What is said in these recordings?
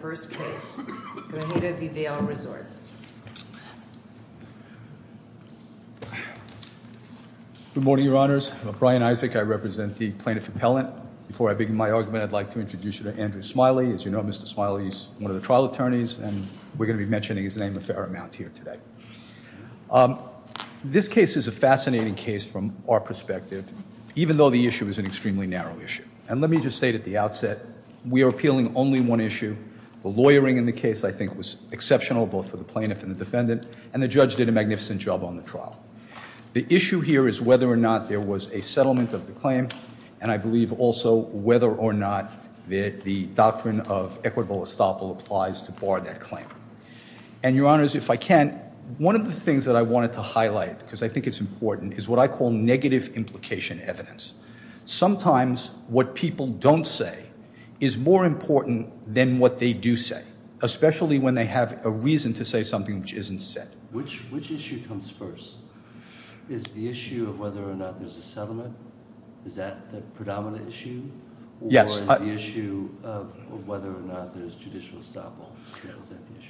Good morning, Your Honors. I'm Brian Isaac. I represent the Plaintiff Appellant. Before I begin my argument, I'd like to introduce you to Andrew Smiley. As you know, Mr. Smiley is one of the trial attorneys, and we're going to be mentioning his name a fair amount here today. This case is a fascinating case from our perspective, even though the issue is an extremely narrow issue. And let me just state at the outset, we are appealing only one issue. The lawyering in the case, I think, was exceptional, both for the plaintiff and the defendant, and the judge did a magnificent job on the trial. The issue here is whether or not there was a settlement of the claim, and I believe also whether or not the doctrine of equitable estoppel applies to bar that claim. And, Your Honors, if I can, one of the things that I wanted to highlight, because I think it's important, is what I call negative implication evidence. Sometimes what people don't say is more important than what they do say, especially when they have a reason to say something which isn't said. Which issue comes first? Is the issue of whether or not there's a settlement? Is that the predominant issue? Or is the issue of whether or not there's judicial estoppel?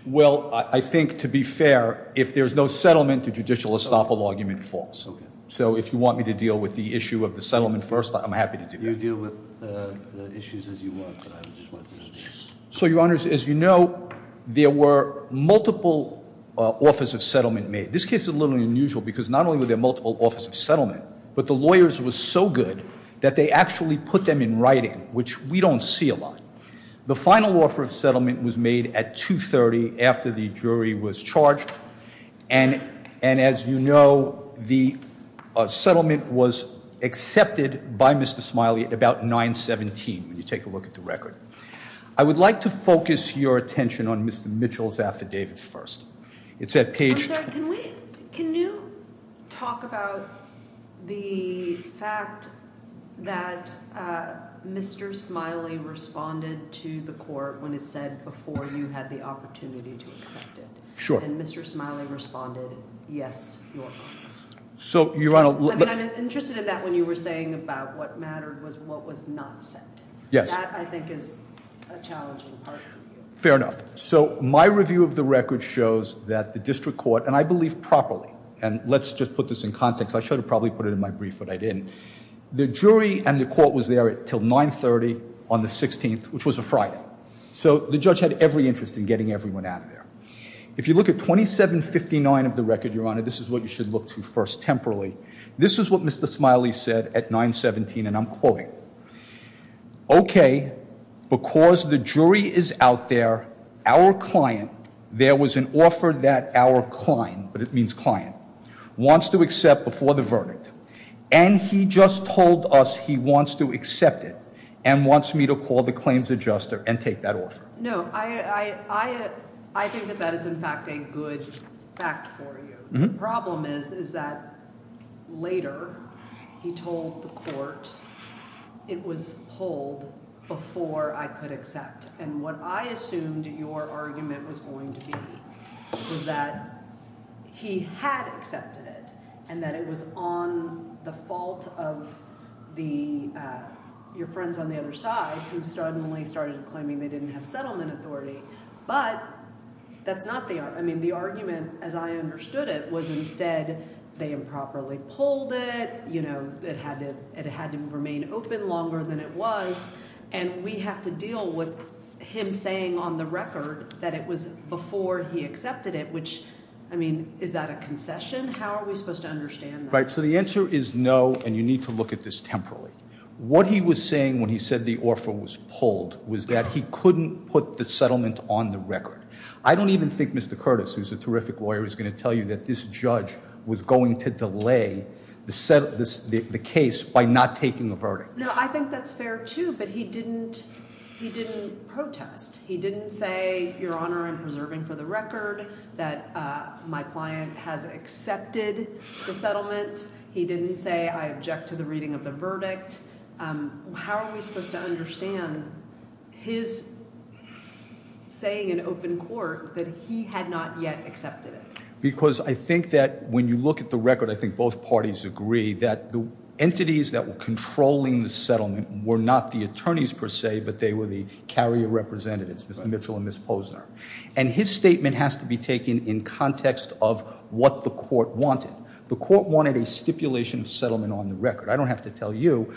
Well, I think, to be fair, if there's no settlement, the judicial estoppel argument falls. So if you want me to deal with the issue of the settlement first, I'm happy to do that. You deal with the issues as you want, but I just wanted to know. So, Your Honors, as you know, there were multiple offers of settlement made. This case is a little unusual because not only were there multiple offers of settlement, but the lawyers were so good that they actually put them in writing, which we don't see a lot. The final offer of settlement was made at 2.30 after the jury was charged. And as you know, the settlement was accepted by Mr. Smiley at about 9.17, when you take a look at the record. I would like to focus your attention on Mr. Mitchell's affidavit first. It's at page two. I'm sorry, can you talk about the fact that Mr. Smiley responded to the court when it said before you had the opportunity to accept it? And Mr. Smiley responded, yes, Your Honor. I mean, I'm interested in that when you were saying about what mattered was what was not said. That, I think, is a challenging part for you. Fair enough. So my review of the record shows that the district court, and I believe properly, and let's just put this in context. I should have probably put it in my brief, but I didn't. The jury and the court was there until 9.30 on the 16th, which was a Friday. So the judge had every interest in getting everyone out of there. If you look at 27.59 of the record, Your Honor, this is what you should look to first, temporally. This is what Mr. Smiley said at 9.17, and I'm quoting. Okay, because the jury is out there, our client, there was an offer that our client, but it means client, wants to accept before the verdict. And he just told us he wants to accept it and wants me to call the claims adjuster and take that No, I think that that is, in fact, a good fact for you. The problem is, is that later he told the court it was pulled before I could accept. And what I assumed your argument was going to be was that he had accepted it and that it was on the fault of your friends on the other side who suddenly started claiming they didn't have settlement authority. But that's not the argument. I mean, the argument, as I understood it, was instead they improperly pulled it. You know, it had to remain open longer than it was. And we have to deal with him saying on the record that it was before he accepted it, which I mean, is that a concession? How are we supposed to understand? Right. So the answer is no. And you need to look at this temporarily. What he was saying when he said the offer was pulled was that he couldn't put the settlement on the record. I don't even think Mr. Curtis, who's a terrific lawyer, is going to tell you that this judge was going to delay the case by not taking the verdict. No, I think that's fair, too. But he didn't he didn't protest. He didn't say, your honor, I'm preserving for the record that my client has accepted the settlement. He didn't say I object to the reading of the verdict. How are we supposed to understand his saying in open court that he had not yet accepted it? Because I think that when you look at the record, I think both parties agree that the entities that were controlling the settlement were not the attorneys per se, but they were the carrier representatives, Mr. Mitchell and Ms. Posner. And his statement has to be taken in context of what the court wanted. The court wanted a stipulation of settlement on the record. I don't have to tell you.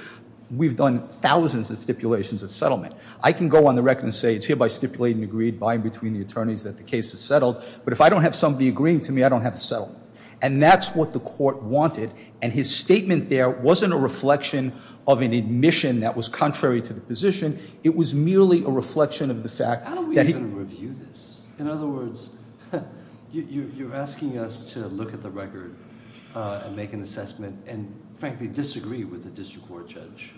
We've done thousands of stipulations of settlement. I can go on the record and say it's hereby stipulated and agreed by and between the attorneys that the case is settled. But if I don't have somebody agreeing to me, I don't have a settlement. And that's what the court wanted. And his statement there wasn't a reflection of an admission that was contrary to the position. It was merely a reflection of the fact that he- How do we even review this? In other words, you're asking us to look at the record and make an assessment and frankly disagree with the district court judge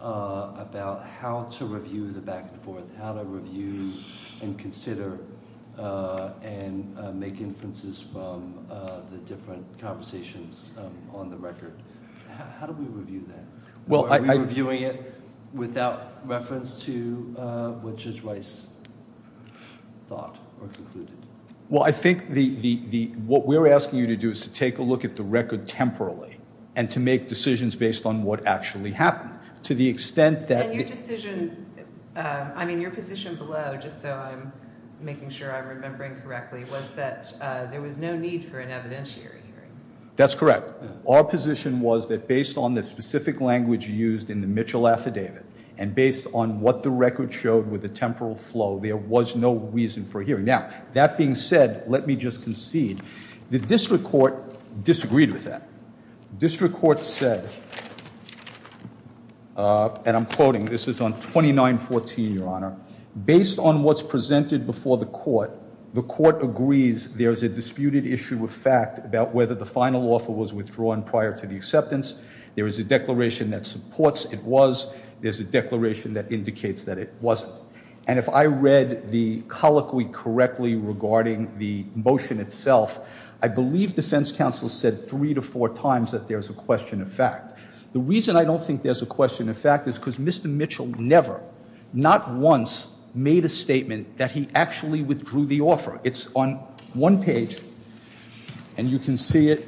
about how to review the back and forth, how to review and consider and make inferences from the different conversations on the record. How do we review that? Are we reviewing it without reference to what Judge Rice thought or concluded? Well, I think what we're asking you to do is to take a look at the record temporally and to make decisions based on what actually happened. To the extent that- And your decision, I mean, your position below, just so I'm making sure I'm remembering correctly, was that there was no need for an evidentiary hearing. That's correct. Our position was that based on the specific language used in the Mitchell affidavit and based on what the record showed with the temporal flow, there was no reason for a hearing. Now, that being said, let me just concede. The district court disagreed with that. District court said, and I'm quoting, this is on 2914, Your Honor, based on what's presented before the court, the court agrees there's a disputed issue of fact about whether the final offer was withdrawn prior to the acceptance. There is a declaration that supports it was, there's a declaration that indicates that it wasn't. And if I read the colloquy correctly regarding the motion itself, I believe defense counsel said three to four times that there's a question of fact. The reason I don't think there's a question of fact is because Mr. Mitchell never, not once, made a statement that he actually withdrew the offer. It's on one page, and you can see it.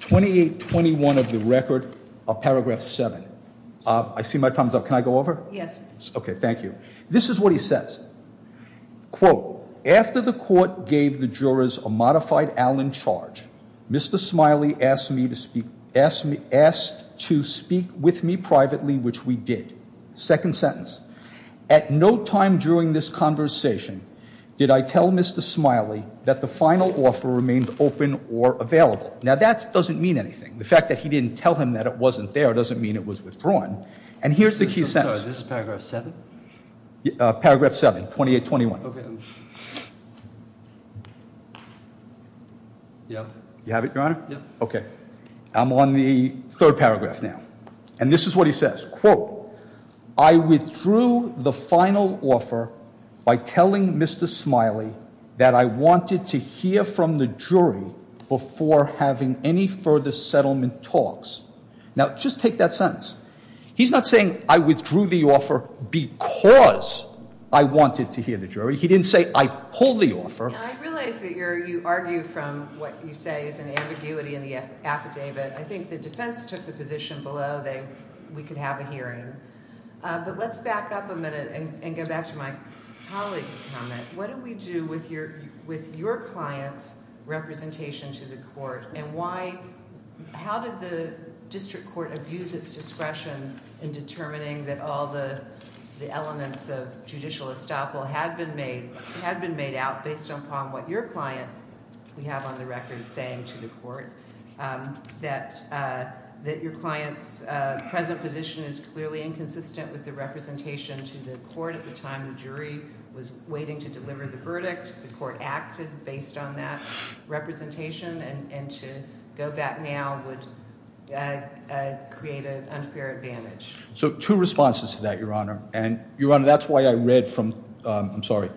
2821 of the record, paragraph seven. I see my time's up, can I go over? Yes. Okay, thank you. This is what he says. Quote, after the court gave the jurors a modified Allen charge, Mr. Smiley asked to speak with me privately, which we did. Second sentence. At no time during this conversation did I tell Mr. Smiley that the final offer remained open or available. Now that doesn't mean anything. The fact that he didn't tell him that it wasn't there doesn't mean it was withdrawn. And here's the key sentence. I'm sorry, this is paragraph seven? Paragraph seven, 2821. Okay. Yeah. You have it, your honor? Yeah. Okay. I'm on the third paragraph now. And this is what he says. Quote, I withdrew the final offer by telling Mr. Smiley that I wanted to hear from the jury before having any further settlement talks. Now, just take that sentence. He's not saying I withdrew the offer because I wanted to hear the jury. He didn't say I pulled the offer. And I realize that you argue from what you say is an ambiguity in the affidavit. I think the defense took the position below that we could have a hearing. But let's back up a minute and go back to my colleague's comment. What do we do with your client's representation to the court? And why... how did the district court abuse its discretion in determining that all the elements of judicial estoppel had been made out based upon what your client, we have on the record, is saying to the court, that your client's present position is clearly inconsistent with the representation to the court at the time the jury was waiting to deliver the verdict? The court acted based on that representation. And to go back now would create an unfair advantage. So, two responses to that, Your Honor. And, Your Honor, that's why I read from, I'm sorry,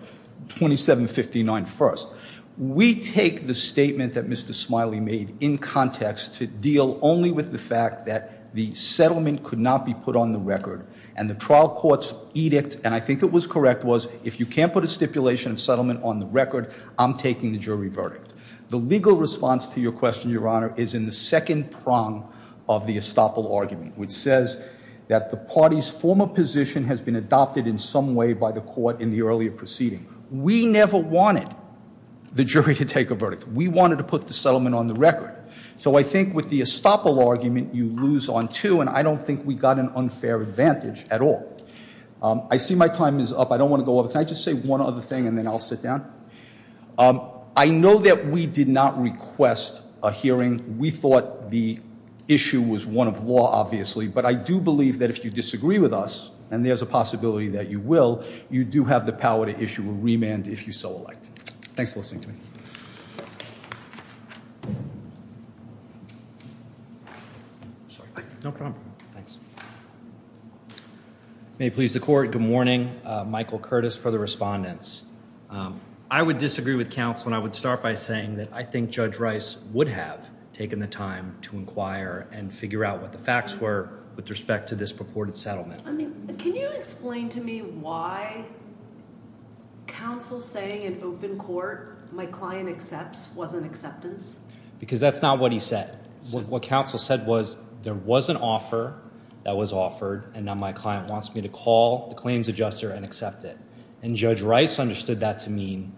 2759 first. We take the statement that Mr. Smiley made in context to deal only with the fact that the settlement could not be put on the record. And the trial court's edict, and I think it was correct, was if you can't put a settlement on the record, I'm taking the jury verdict. The legal response to your question, Your Honor, is in the second prong of the estoppel argument, which says that the party's former position has been adopted in some way by the court in the earlier proceeding. We never wanted the jury to take a verdict. We wanted to put the settlement on the record. So I think with the estoppel argument, you lose on two, and I don't think we got an unfair advantage at all. I see my time is up. I don't want to go over. Can I just say one other thing, and then I'll sit down? I know that we did not request a hearing. We thought the issue was one of law, obviously. But I do believe that if you disagree with us, and there's a possibility that you will, you do have the power to issue a remand if you so elect. Thanks for listening to me. Sorry. No problem. Thanks. May it please the court. Good morning. Michael Curtis for the respondents. I would disagree with counsel, and I would start by saying that I think Judge Rice would have taken the time to inquire and figure out what the facts were with respect to this purported settlement. I mean, can you explain to me why counsel saying in open court my client accepts wasn't acceptance? Because that's not what he said. What counsel said was there was an offer that was offered, and now my client wants me to call the claims adjuster and accept it. And Judge Rice understood that to mean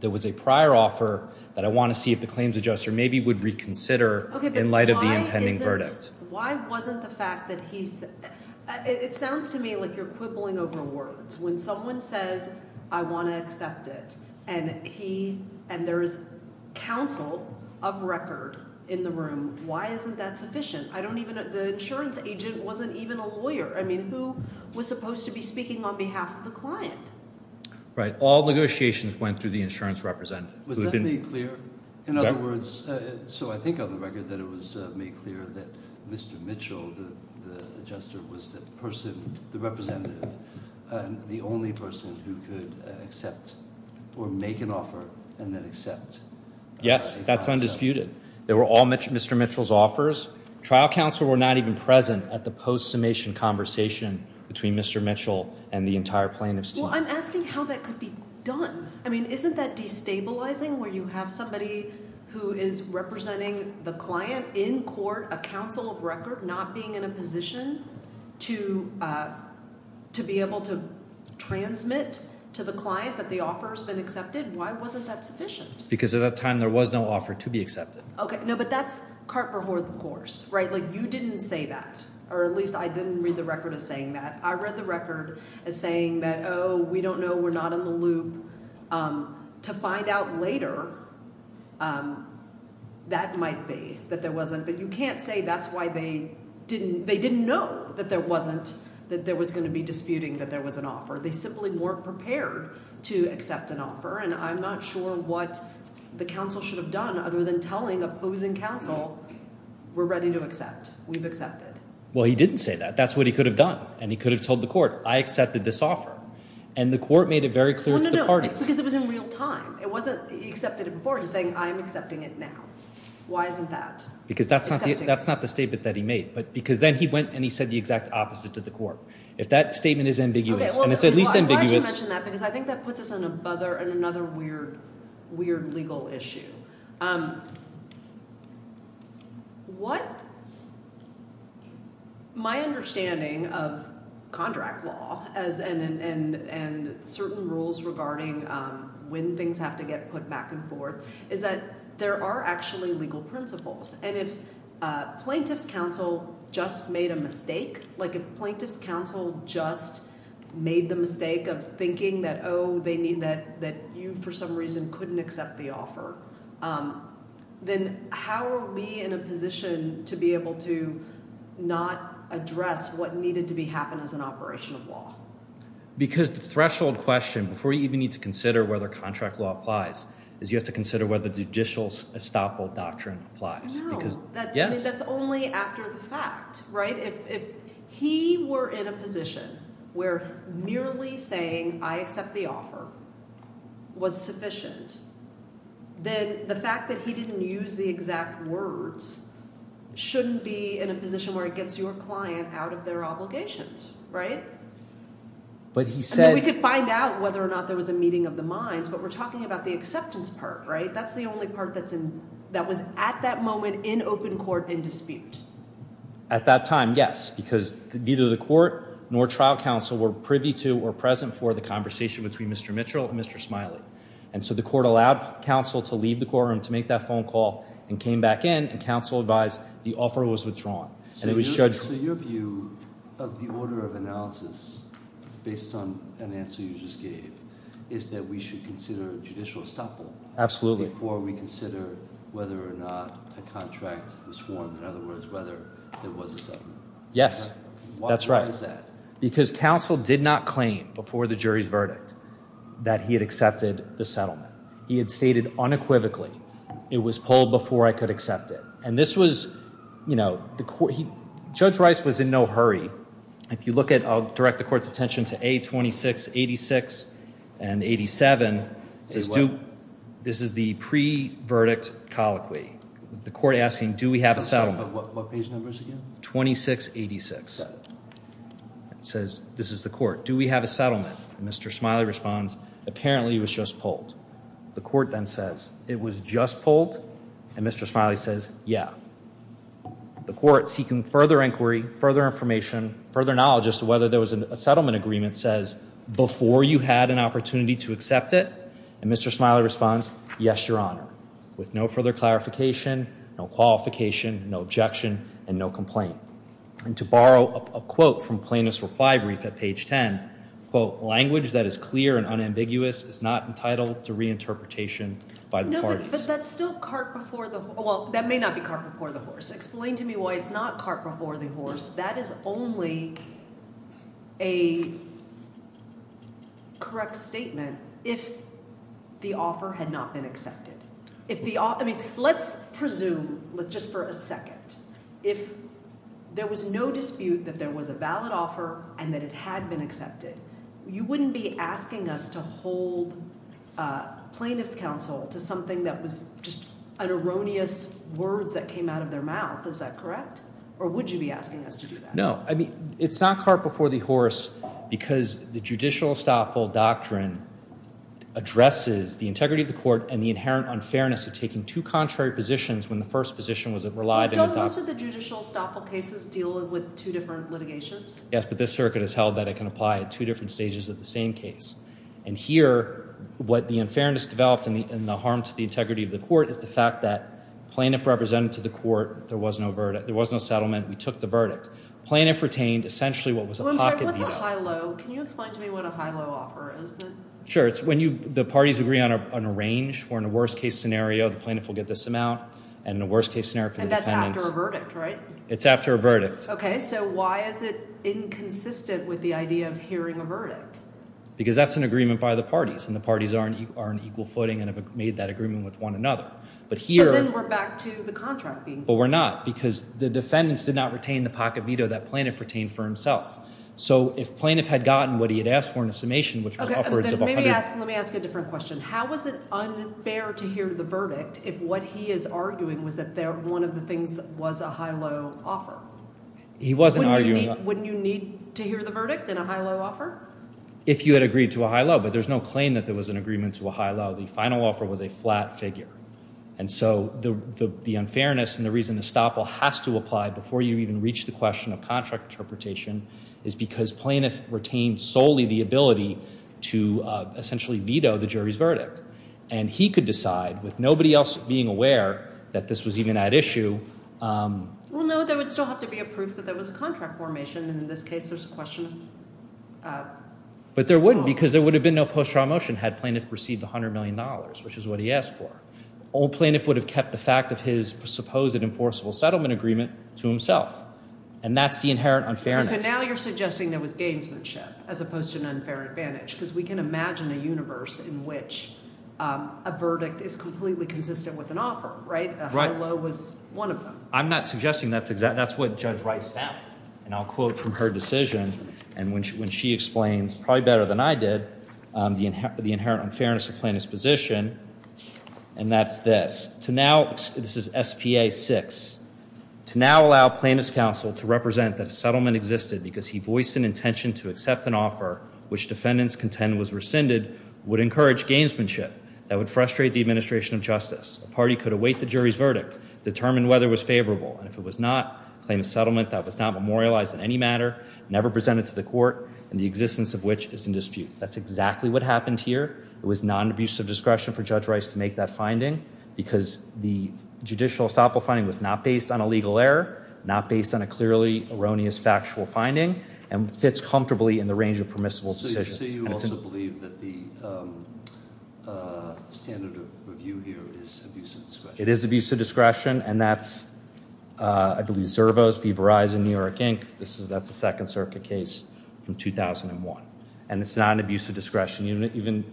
there was a prior offer that I want to see if the claims adjuster maybe would reconsider in light of the impending verdict. Why wasn't the fact that he's, it sounds to me like you're quibbling over words. When someone says, I want to accept it, and he, and there is counsel of record in the room. Why isn't that sufficient? I don't even, the insurance agent wasn't even a lawyer. I mean, who was supposed to be speaking on behalf of the client? Right. All negotiations went through the insurance representative. Was that made clear? In other words, so I think on the record that it was made clear that Mr. The only person who could accept or make an offer and then accept. Yes, that's undisputed. They were all Mr. Mitchell's offers. Trial counsel were not even present at the post summation conversation between Mr. Mitchell and the entire plaintiff's team. Well, I'm asking how that could be done. I mean, isn't that destabilizing where you have somebody who is representing the client in court, a counsel of record, not being in a position to be able to transmit to the client that the offer has been accepted? Why wasn't that sufficient? Because at that time there was no offer to be accepted. Okay. No, but that's Carper Hoard, of course, right? Like you didn't say that, or at least I didn't read the record as saying that. I read the record as saying that, oh, we don't know. We're not in the loop to find out later. That might be that there wasn't, but you can't say that's why they didn't know that there wasn't, that there was going to be disputing that there was an offer. They simply weren't prepared to accept an offer, and I'm not sure what the counsel should have done other than telling opposing counsel, we're ready to accept. We've accepted. Well, he didn't say that. That's what he could have done, and he could have told the court, I accepted this offer, and the court made it very clear to the parties. Because it was in real time. It wasn't, he accepted it before, he's saying I'm accepting it now. Why isn't that? Because that's not the statement that he made, but because then he went and he said the exact opposite to the court. If that statement is ambiguous, and it's at least ambiguous. Okay, well, I'm glad you mentioned that, because I think that puts us on another weird legal issue. What, my understanding of contract law, and certain rules regarding when things have to get put back and forth, is that there are actually legal principles. And if plaintiff's counsel just made a mistake, like if plaintiff's counsel just made the mistake of thinking that, oh, they need that, that you for some reason couldn't accept the offer. Then how are we in a position to be able to not address what needed to be happened as an operation of law? Because the threshold question, before you even need to consider whether contract law applies, is you have to consider whether judicial estoppel doctrine applies. No. Yes. That's only after the fact, right? If he were in a position where merely saying, I accept the offer, was sufficient, then the fact that he didn't use the exact words shouldn't be in a position where it gets your client out of their obligations, right? But he said. And then we could find out whether or not there was a meeting of the minds, but we're talking about the acceptance part, right? That's the only part that was at that moment in open court in dispute. At that time, yes. Because neither the court nor trial counsel were privy to or present for the conversation between Mr. Mitchell and Mr. Smiley. And so the court allowed counsel to leave the courtroom to make that phone call and came back in and counsel advised the offer was withdrawn and it was judged. So your view of the order of analysis, based on an answer you just gave, is that we should consider judicial estoppel. Absolutely. Before we consider whether or not a contract was formed. In other words, whether there was a settlement. Yes, that's right. Why is that? Because counsel did not claim before the jury's verdict that he had accepted the settlement. He had stated unequivocally, it was pulled before I could accept it. And this was, you know, Judge Rice was in no hurry. If you look at, I'll direct the court's attention to A2686 and 87. This is the pre-verdict colloquy. The court asking, do we have a settlement? What page numbers again? 2686. It says, this is the court, do we have a settlement? Mr. Smiley responds, apparently it was just pulled. The court then says, it was just pulled? And Mr. Smiley says, yeah. The court, seeking further inquiry, further information, further knowledge as to whether there was a settlement agreement, says, before you had an opportunity to accept it? And Mr. Smiley responds, yes, your honor. With no further clarification, no qualification, no objection, and no complaint. And to borrow a quote from Plaintiff's reply brief at page 10, quote, language that is clear and unambiguous is not entitled to reinterpretation by the parties. But that's still cart before the horse. Well, that may not be cart before the horse. Explain to me why it's not cart before the horse. That is only a correct statement if the offer had not been accepted. If the offer, I mean, let's presume, just for a second, if there was no dispute that there was a valid offer and that it had been accepted, you wouldn't be asking us to hold Plaintiff's counsel to something that was just an erroneous words that came out of their mouth. Is that correct? Or would you be asking us to do that? No, I mean, it's not cart before the horse because the judicial estoppel doctrine addresses the integrity of the court and the inherent unfairness of taking two contrary positions when the first position was relied on. Don't most of the judicial estoppel cases deal with two different litigations? Yes, but this circuit has held that it can apply at two different stages of the same case. And here what the unfairness developed and the harm to the integrity of the court is the fact that Plaintiff represented to the court there was no verdict, there was no settlement, we took the verdict. Plaintiff retained essentially what was a pocket view. I'm sorry, what's a high-low? Can you explain to me what a high-low offer is? Sure. It's when the parties agree on a range where in a worst-case scenario the plaintiff will get this amount and in a worst-case scenario for the defendants. And that's after a verdict, right? It's after a verdict. Okay, so why is it inconsistent with the idea of hearing a verdict? Because that's an agreement by the parties and the parties are in equal footing and have made that agreement with one another. But here— So then we're back to the contract being— But we're not because the defendants did not retain the pocket veto that Plaintiff retained for himself. So if Plaintiff had gotten what he had asked for in a summation which was upwards of— Okay, let me ask a different question. How was it unfair to hear the verdict if what he is arguing was that one of the things was a high-low offer? He wasn't arguing— Wouldn't you need to hear the verdict in a high-low offer? If you had agreed to a high-low, but there's no claim that there was an agreement to a high-low. The final offer was a flat figure. And so the unfairness and the reason Estoppel has to apply before you even reach the question of contract interpretation is because Plaintiff retained solely the ability to essentially veto the jury's verdict. And he could decide with nobody else being aware that this was even at issue— Well, no, there would still have to be a proof that there was a contract formation. And in this case, there's a question of— But there wouldn't because there would have been no post-trial motion had Plaintiff received $100 million, which is what he asked for. Old Plaintiff would have kept the fact of his supposed enforceable settlement agreement to himself. And that's the inherent unfairness. So now you're suggesting there was gamesmanship as opposed to an unfair advantage because we can imagine a universe in which a verdict is completely consistent with an offer, right? A high-low was one of them. I'm not suggesting that's exactly—that's what Judge Rice found. And I'll quote from her decision. And when she explains, probably better than I did, the inherent unfairness of Plaintiff's position. And that's this. This is S.P.A. 6. To now allow Plaintiff's counsel to represent that a settlement existed because he voiced an intention to accept an offer which defendants contend was rescinded would encourage gamesmanship. That would frustrate the administration of justice. A party could await the jury's verdict, determine whether it was favorable. And if it was not, claim a settlement that was not memorialized in any matter, never presented to the court, and the existence of which is in dispute. That's exactly what happened here. It was non-abusive discretion for Judge Rice to make that finding because the judicial estoppel finding was not based on a legal error, not based on a clearly erroneous factual finding, and fits comfortably in the range of permissible decisions. So you also believe that the standard of review here is abuse of discretion? It is abuse of discretion, and that's, I believe, Zervos v. Verizon, New York Inc. That's a Second Circuit case from 2001. And it's not an abuse of discretion. Even,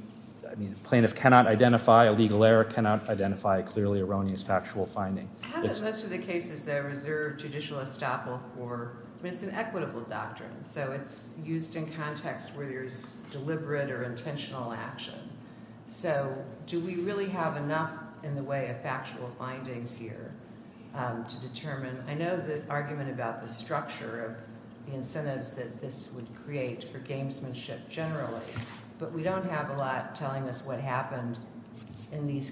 I mean, Plaintiff cannot identify a legal error, cannot identify a clearly erroneous factual finding. How about most of the cases that are reserved judicial estoppel for mis- and equitable doctrines? So it's used in context where there's deliberate or intentional action. So do we really have enough in the way of factual findings here to determine? I know the argument about the structure of the incentives that this would create for gamesmanship generally, but we don't have a lot telling us what happened in this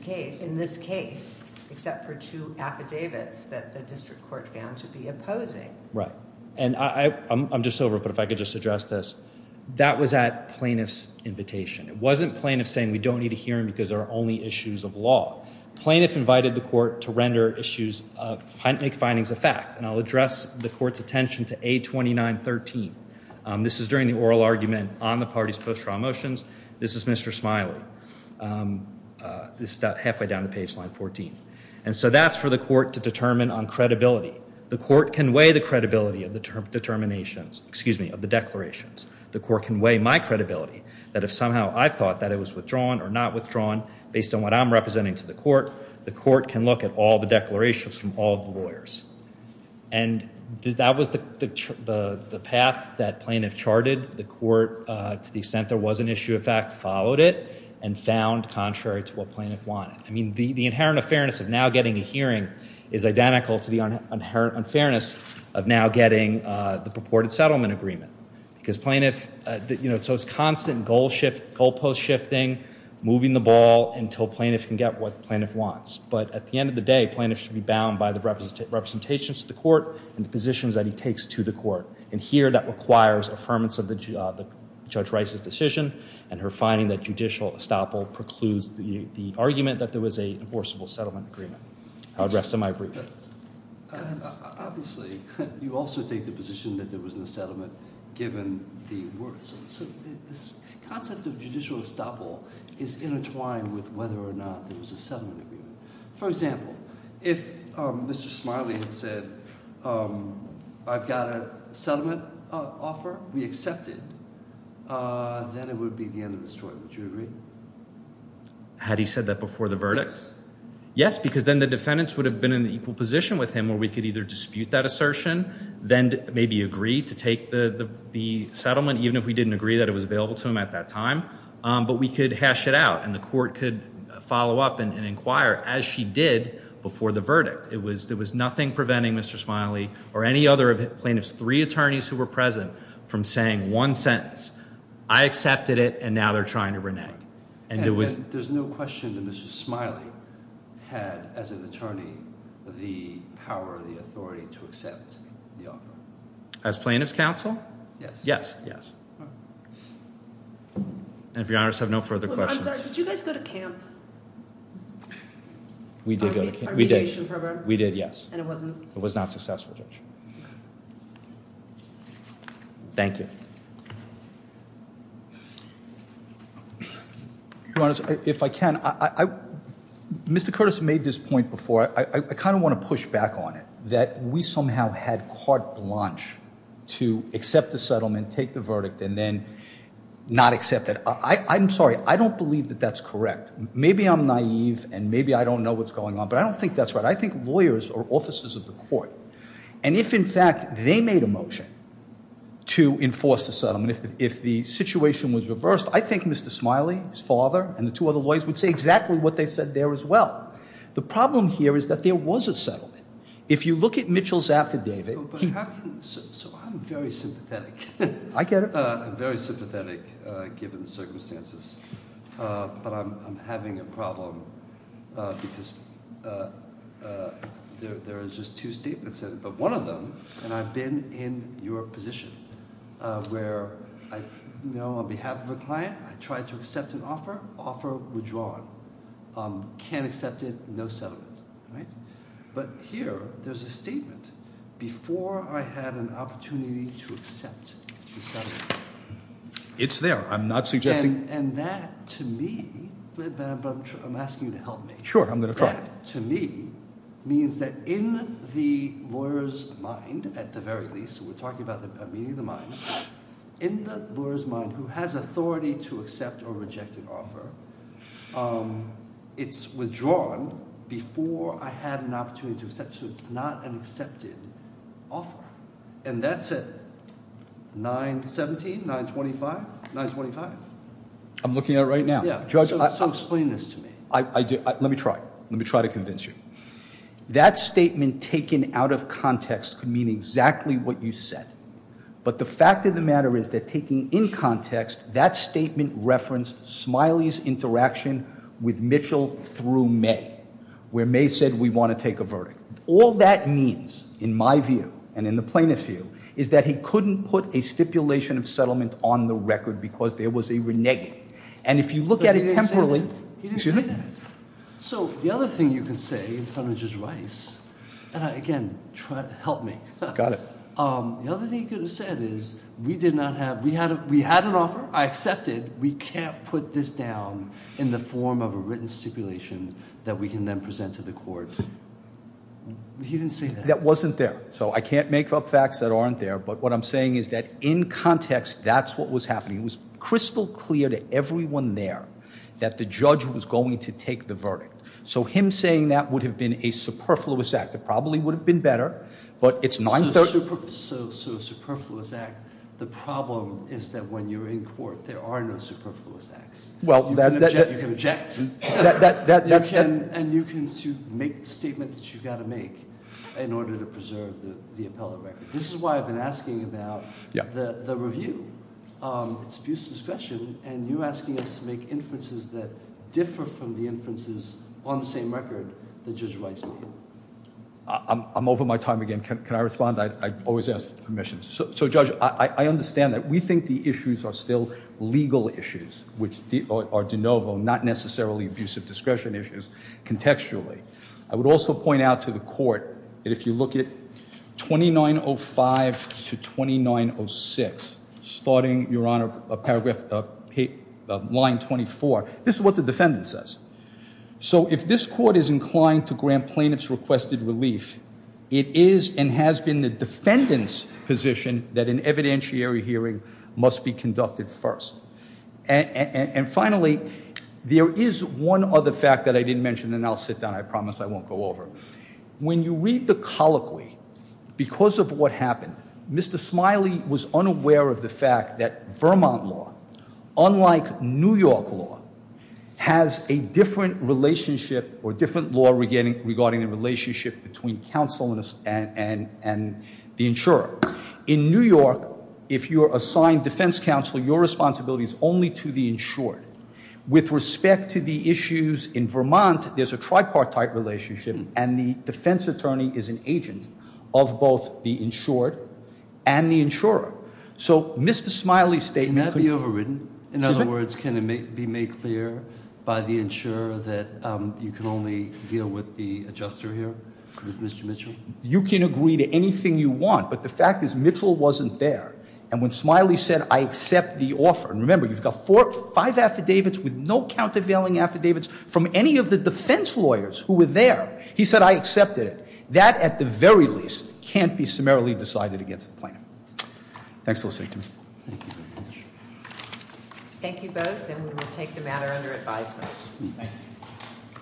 case, except for two affidavits that the district court found to be opposing. Right. And I'm just over it, but if I could just address this. That was at Plaintiff's invitation. It wasn't Plaintiff saying we don't need a hearing because there are only issues of law. Plaintiff invited the court to render issues, make findings of fact. And I'll address the court's attention to A2913. This is during the oral argument on the party's post-trial motions. This is Mr. Smiley. This is about halfway down the page, line 14. And so that's for the court to determine on credibility. The court can weigh the credibility of the determinations, excuse me, of the declarations. The court can weigh my credibility, that if somehow I thought that it was withdrawn or not withdrawn based on what I'm representing to the court, the court can look at all the declarations from all the lawyers. And that was the path that Plaintiff charted. The court, to the extent there was an issue of fact, followed it and found contrary to what Plaintiff wanted. I mean, the inherent unfairness of now getting a hearing is identical to the unfairness of now getting the purported settlement agreement. Because Plaintiff, you know, so it's constant goal shift, goalpost shifting, moving the ball until Plaintiff can get what Plaintiff wants. But at the end of the day, Plaintiff should be bound by the representations to the court and the positions that he takes to the court. And here that requires affirmance of Judge Rice's decision and her finding that judicial estoppel precludes the argument that there was an enforceable settlement agreement. I'll address to my brief. Obviously, you also take the position that there was no settlement given the words. So this concept of judicial estoppel is intertwined with whether or not there was a settlement agreement. For example, if Mr. Smiley had said I've got a settlement offer, we accept it, then it would be the end of the story. Would you agree? Had he said that before the verdict? Yes. Yes, because then the defendants would have been in an equal position with him where we could either dispute that assertion, then maybe agree to take the settlement even if we didn't agree that it was available to him at that time. But we could hash it out and the court could follow up and inquire as she did before the verdict. It was nothing preventing Mr. Smiley or any other of Plaintiff's three attorneys who were present from saying one sentence. I accepted it and now they're trying to renege. There's no question that Mr. Smiley had, as an attorney, the power or the authority to accept the offer. As plaintiff's counsel? Yes. Yes, yes. And if you're honest, I have no further questions. I'm sorry. Did you guys go to camp? We did go to camp. Our mediation program? We did, yes. And it wasn't? It was not successful, Judge. Thank you. Your Honor, if I can, Mr. Curtis made this point before. I kind of want to push back on it, that we somehow had carte blanche to accept the settlement, take the verdict, and then not accept it. I'm sorry. I don't believe that that's correct. Maybe I'm naive and maybe I don't know what's going on, but I don't think that's right. I think lawyers are officers of the court. And if, in fact, they made a motion to enforce the settlement, if the situation was reversed, I think Mr. Smiley, his father, and the two other lawyers would say exactly what they said there as well. The problem here is that there was a settlement. If you look at Mitchell's affidavit- So I'm very sympathetic. I get it. I'm very sympathetic given the circumstances, but I'm having a problem because there is just two statements in it. But one of them, and I've been in your position, where I know on behalf of a client I tried to accept an offer, offer withdrawn. Can't accept it, no settlement. But here there's a statement. Before I had an opportunity to accept the settlement. It's there. I'm not suggesting- And that, to me, I'm asking you to help me. Sure, I'm going to try. That, to me, means that in the lawyer's mind, at the very least, we're talking about the meaning of the mind, in the lawyer's mind who has authority to accept or reject an offer, it's withdrawn before I had an opportunity to accept. So it's not an accepted offer. And that's it. 917, 925, 925. I'm looking at it right now. So explain this to me. Let me try. Let me try to convince you. That statement taken out of context could mean exactly what you said. But the fact of the matter is that taking in context, that statement referenced Smiley's interaction with Mitchell through May, where May said we want to take a verdict. All that means, in my view and in the plaintiff's view, is that he couldn't put a stipulation of settlement on the record because there was a reneging. And if you look at it temporally- But you didn't say that. You didn't say that. So the other thing you can say in front of Judge Rice, and again, help me. Got it. The other thing you could have said is we did not have- We had an offer. I accepted. We can't put this down in the form of a written stipulation that we can then present to the court. You didn't say that. That wasn't there. So I can't make up facts that aren't there. But what I'm saying is that in context, that's what was happening. It was crystal clear to everyone there that the judge was going to take the verdict. So him saying that would have been a superfluous act. It probably would have been better. So a superfluous act. The problem is that when you're in court, there are no superfluous acts. You can object. And you can make the statement that you've got to make in order to preserve the appellate record. This is why I've been asking about the review. It's abuse of discretion, and you're asking us to make inferences that differ from the inferences on the same record that Judge Rice made. I'm over my time again. Can I respond? I always ask for permission. So, Judge, I understand that. We think the issues are still legal issues, which are de novo, not necessarily abuse of discretion issues, contextually. I would also point out to the court that if you look at 2905 to 2906, starting, Your Honor, line 24, this is what the defendant says. So if this court is inclined to grant plaintiff's requested relief, it is and has been the defendant's position that an evidentiary hearing must be conducted first. And finally, there is one other fact that I didn't mention, and I'll sit down. I promise I won't go over. When you read the colloquy, because of what happened, Mr. Smiley was unaware of the fact that Vermont law, unlike New York law, has a different relationship or different law regarding the relationship between counsel and the insurer. In New York, if you're assigned defense counsel, your responsibility is only to the insured. With respect to the issues in Vermont, there's a tripartite relationship, and the defense attorney is an agent of both the insured and the insurer. So Mr. Smiley's statement- Can that be overridden? Excuse me? In other words, can it be made clear by the insurer that you can only deal with the adjuster here, Mr. Mitchell? You can agree to anything you want, but the fact is Mitchell wasn't there. And when Smiley said, I accept the offer. And remember, you've got five affidavits with no countervailing affidavits from any of the defense lawyers who were there. He said, I accepted it. That, at the very least, can't be summarily decided against the plan. Thanks for listening to me. Thank you both, and we will take the matter under advisement.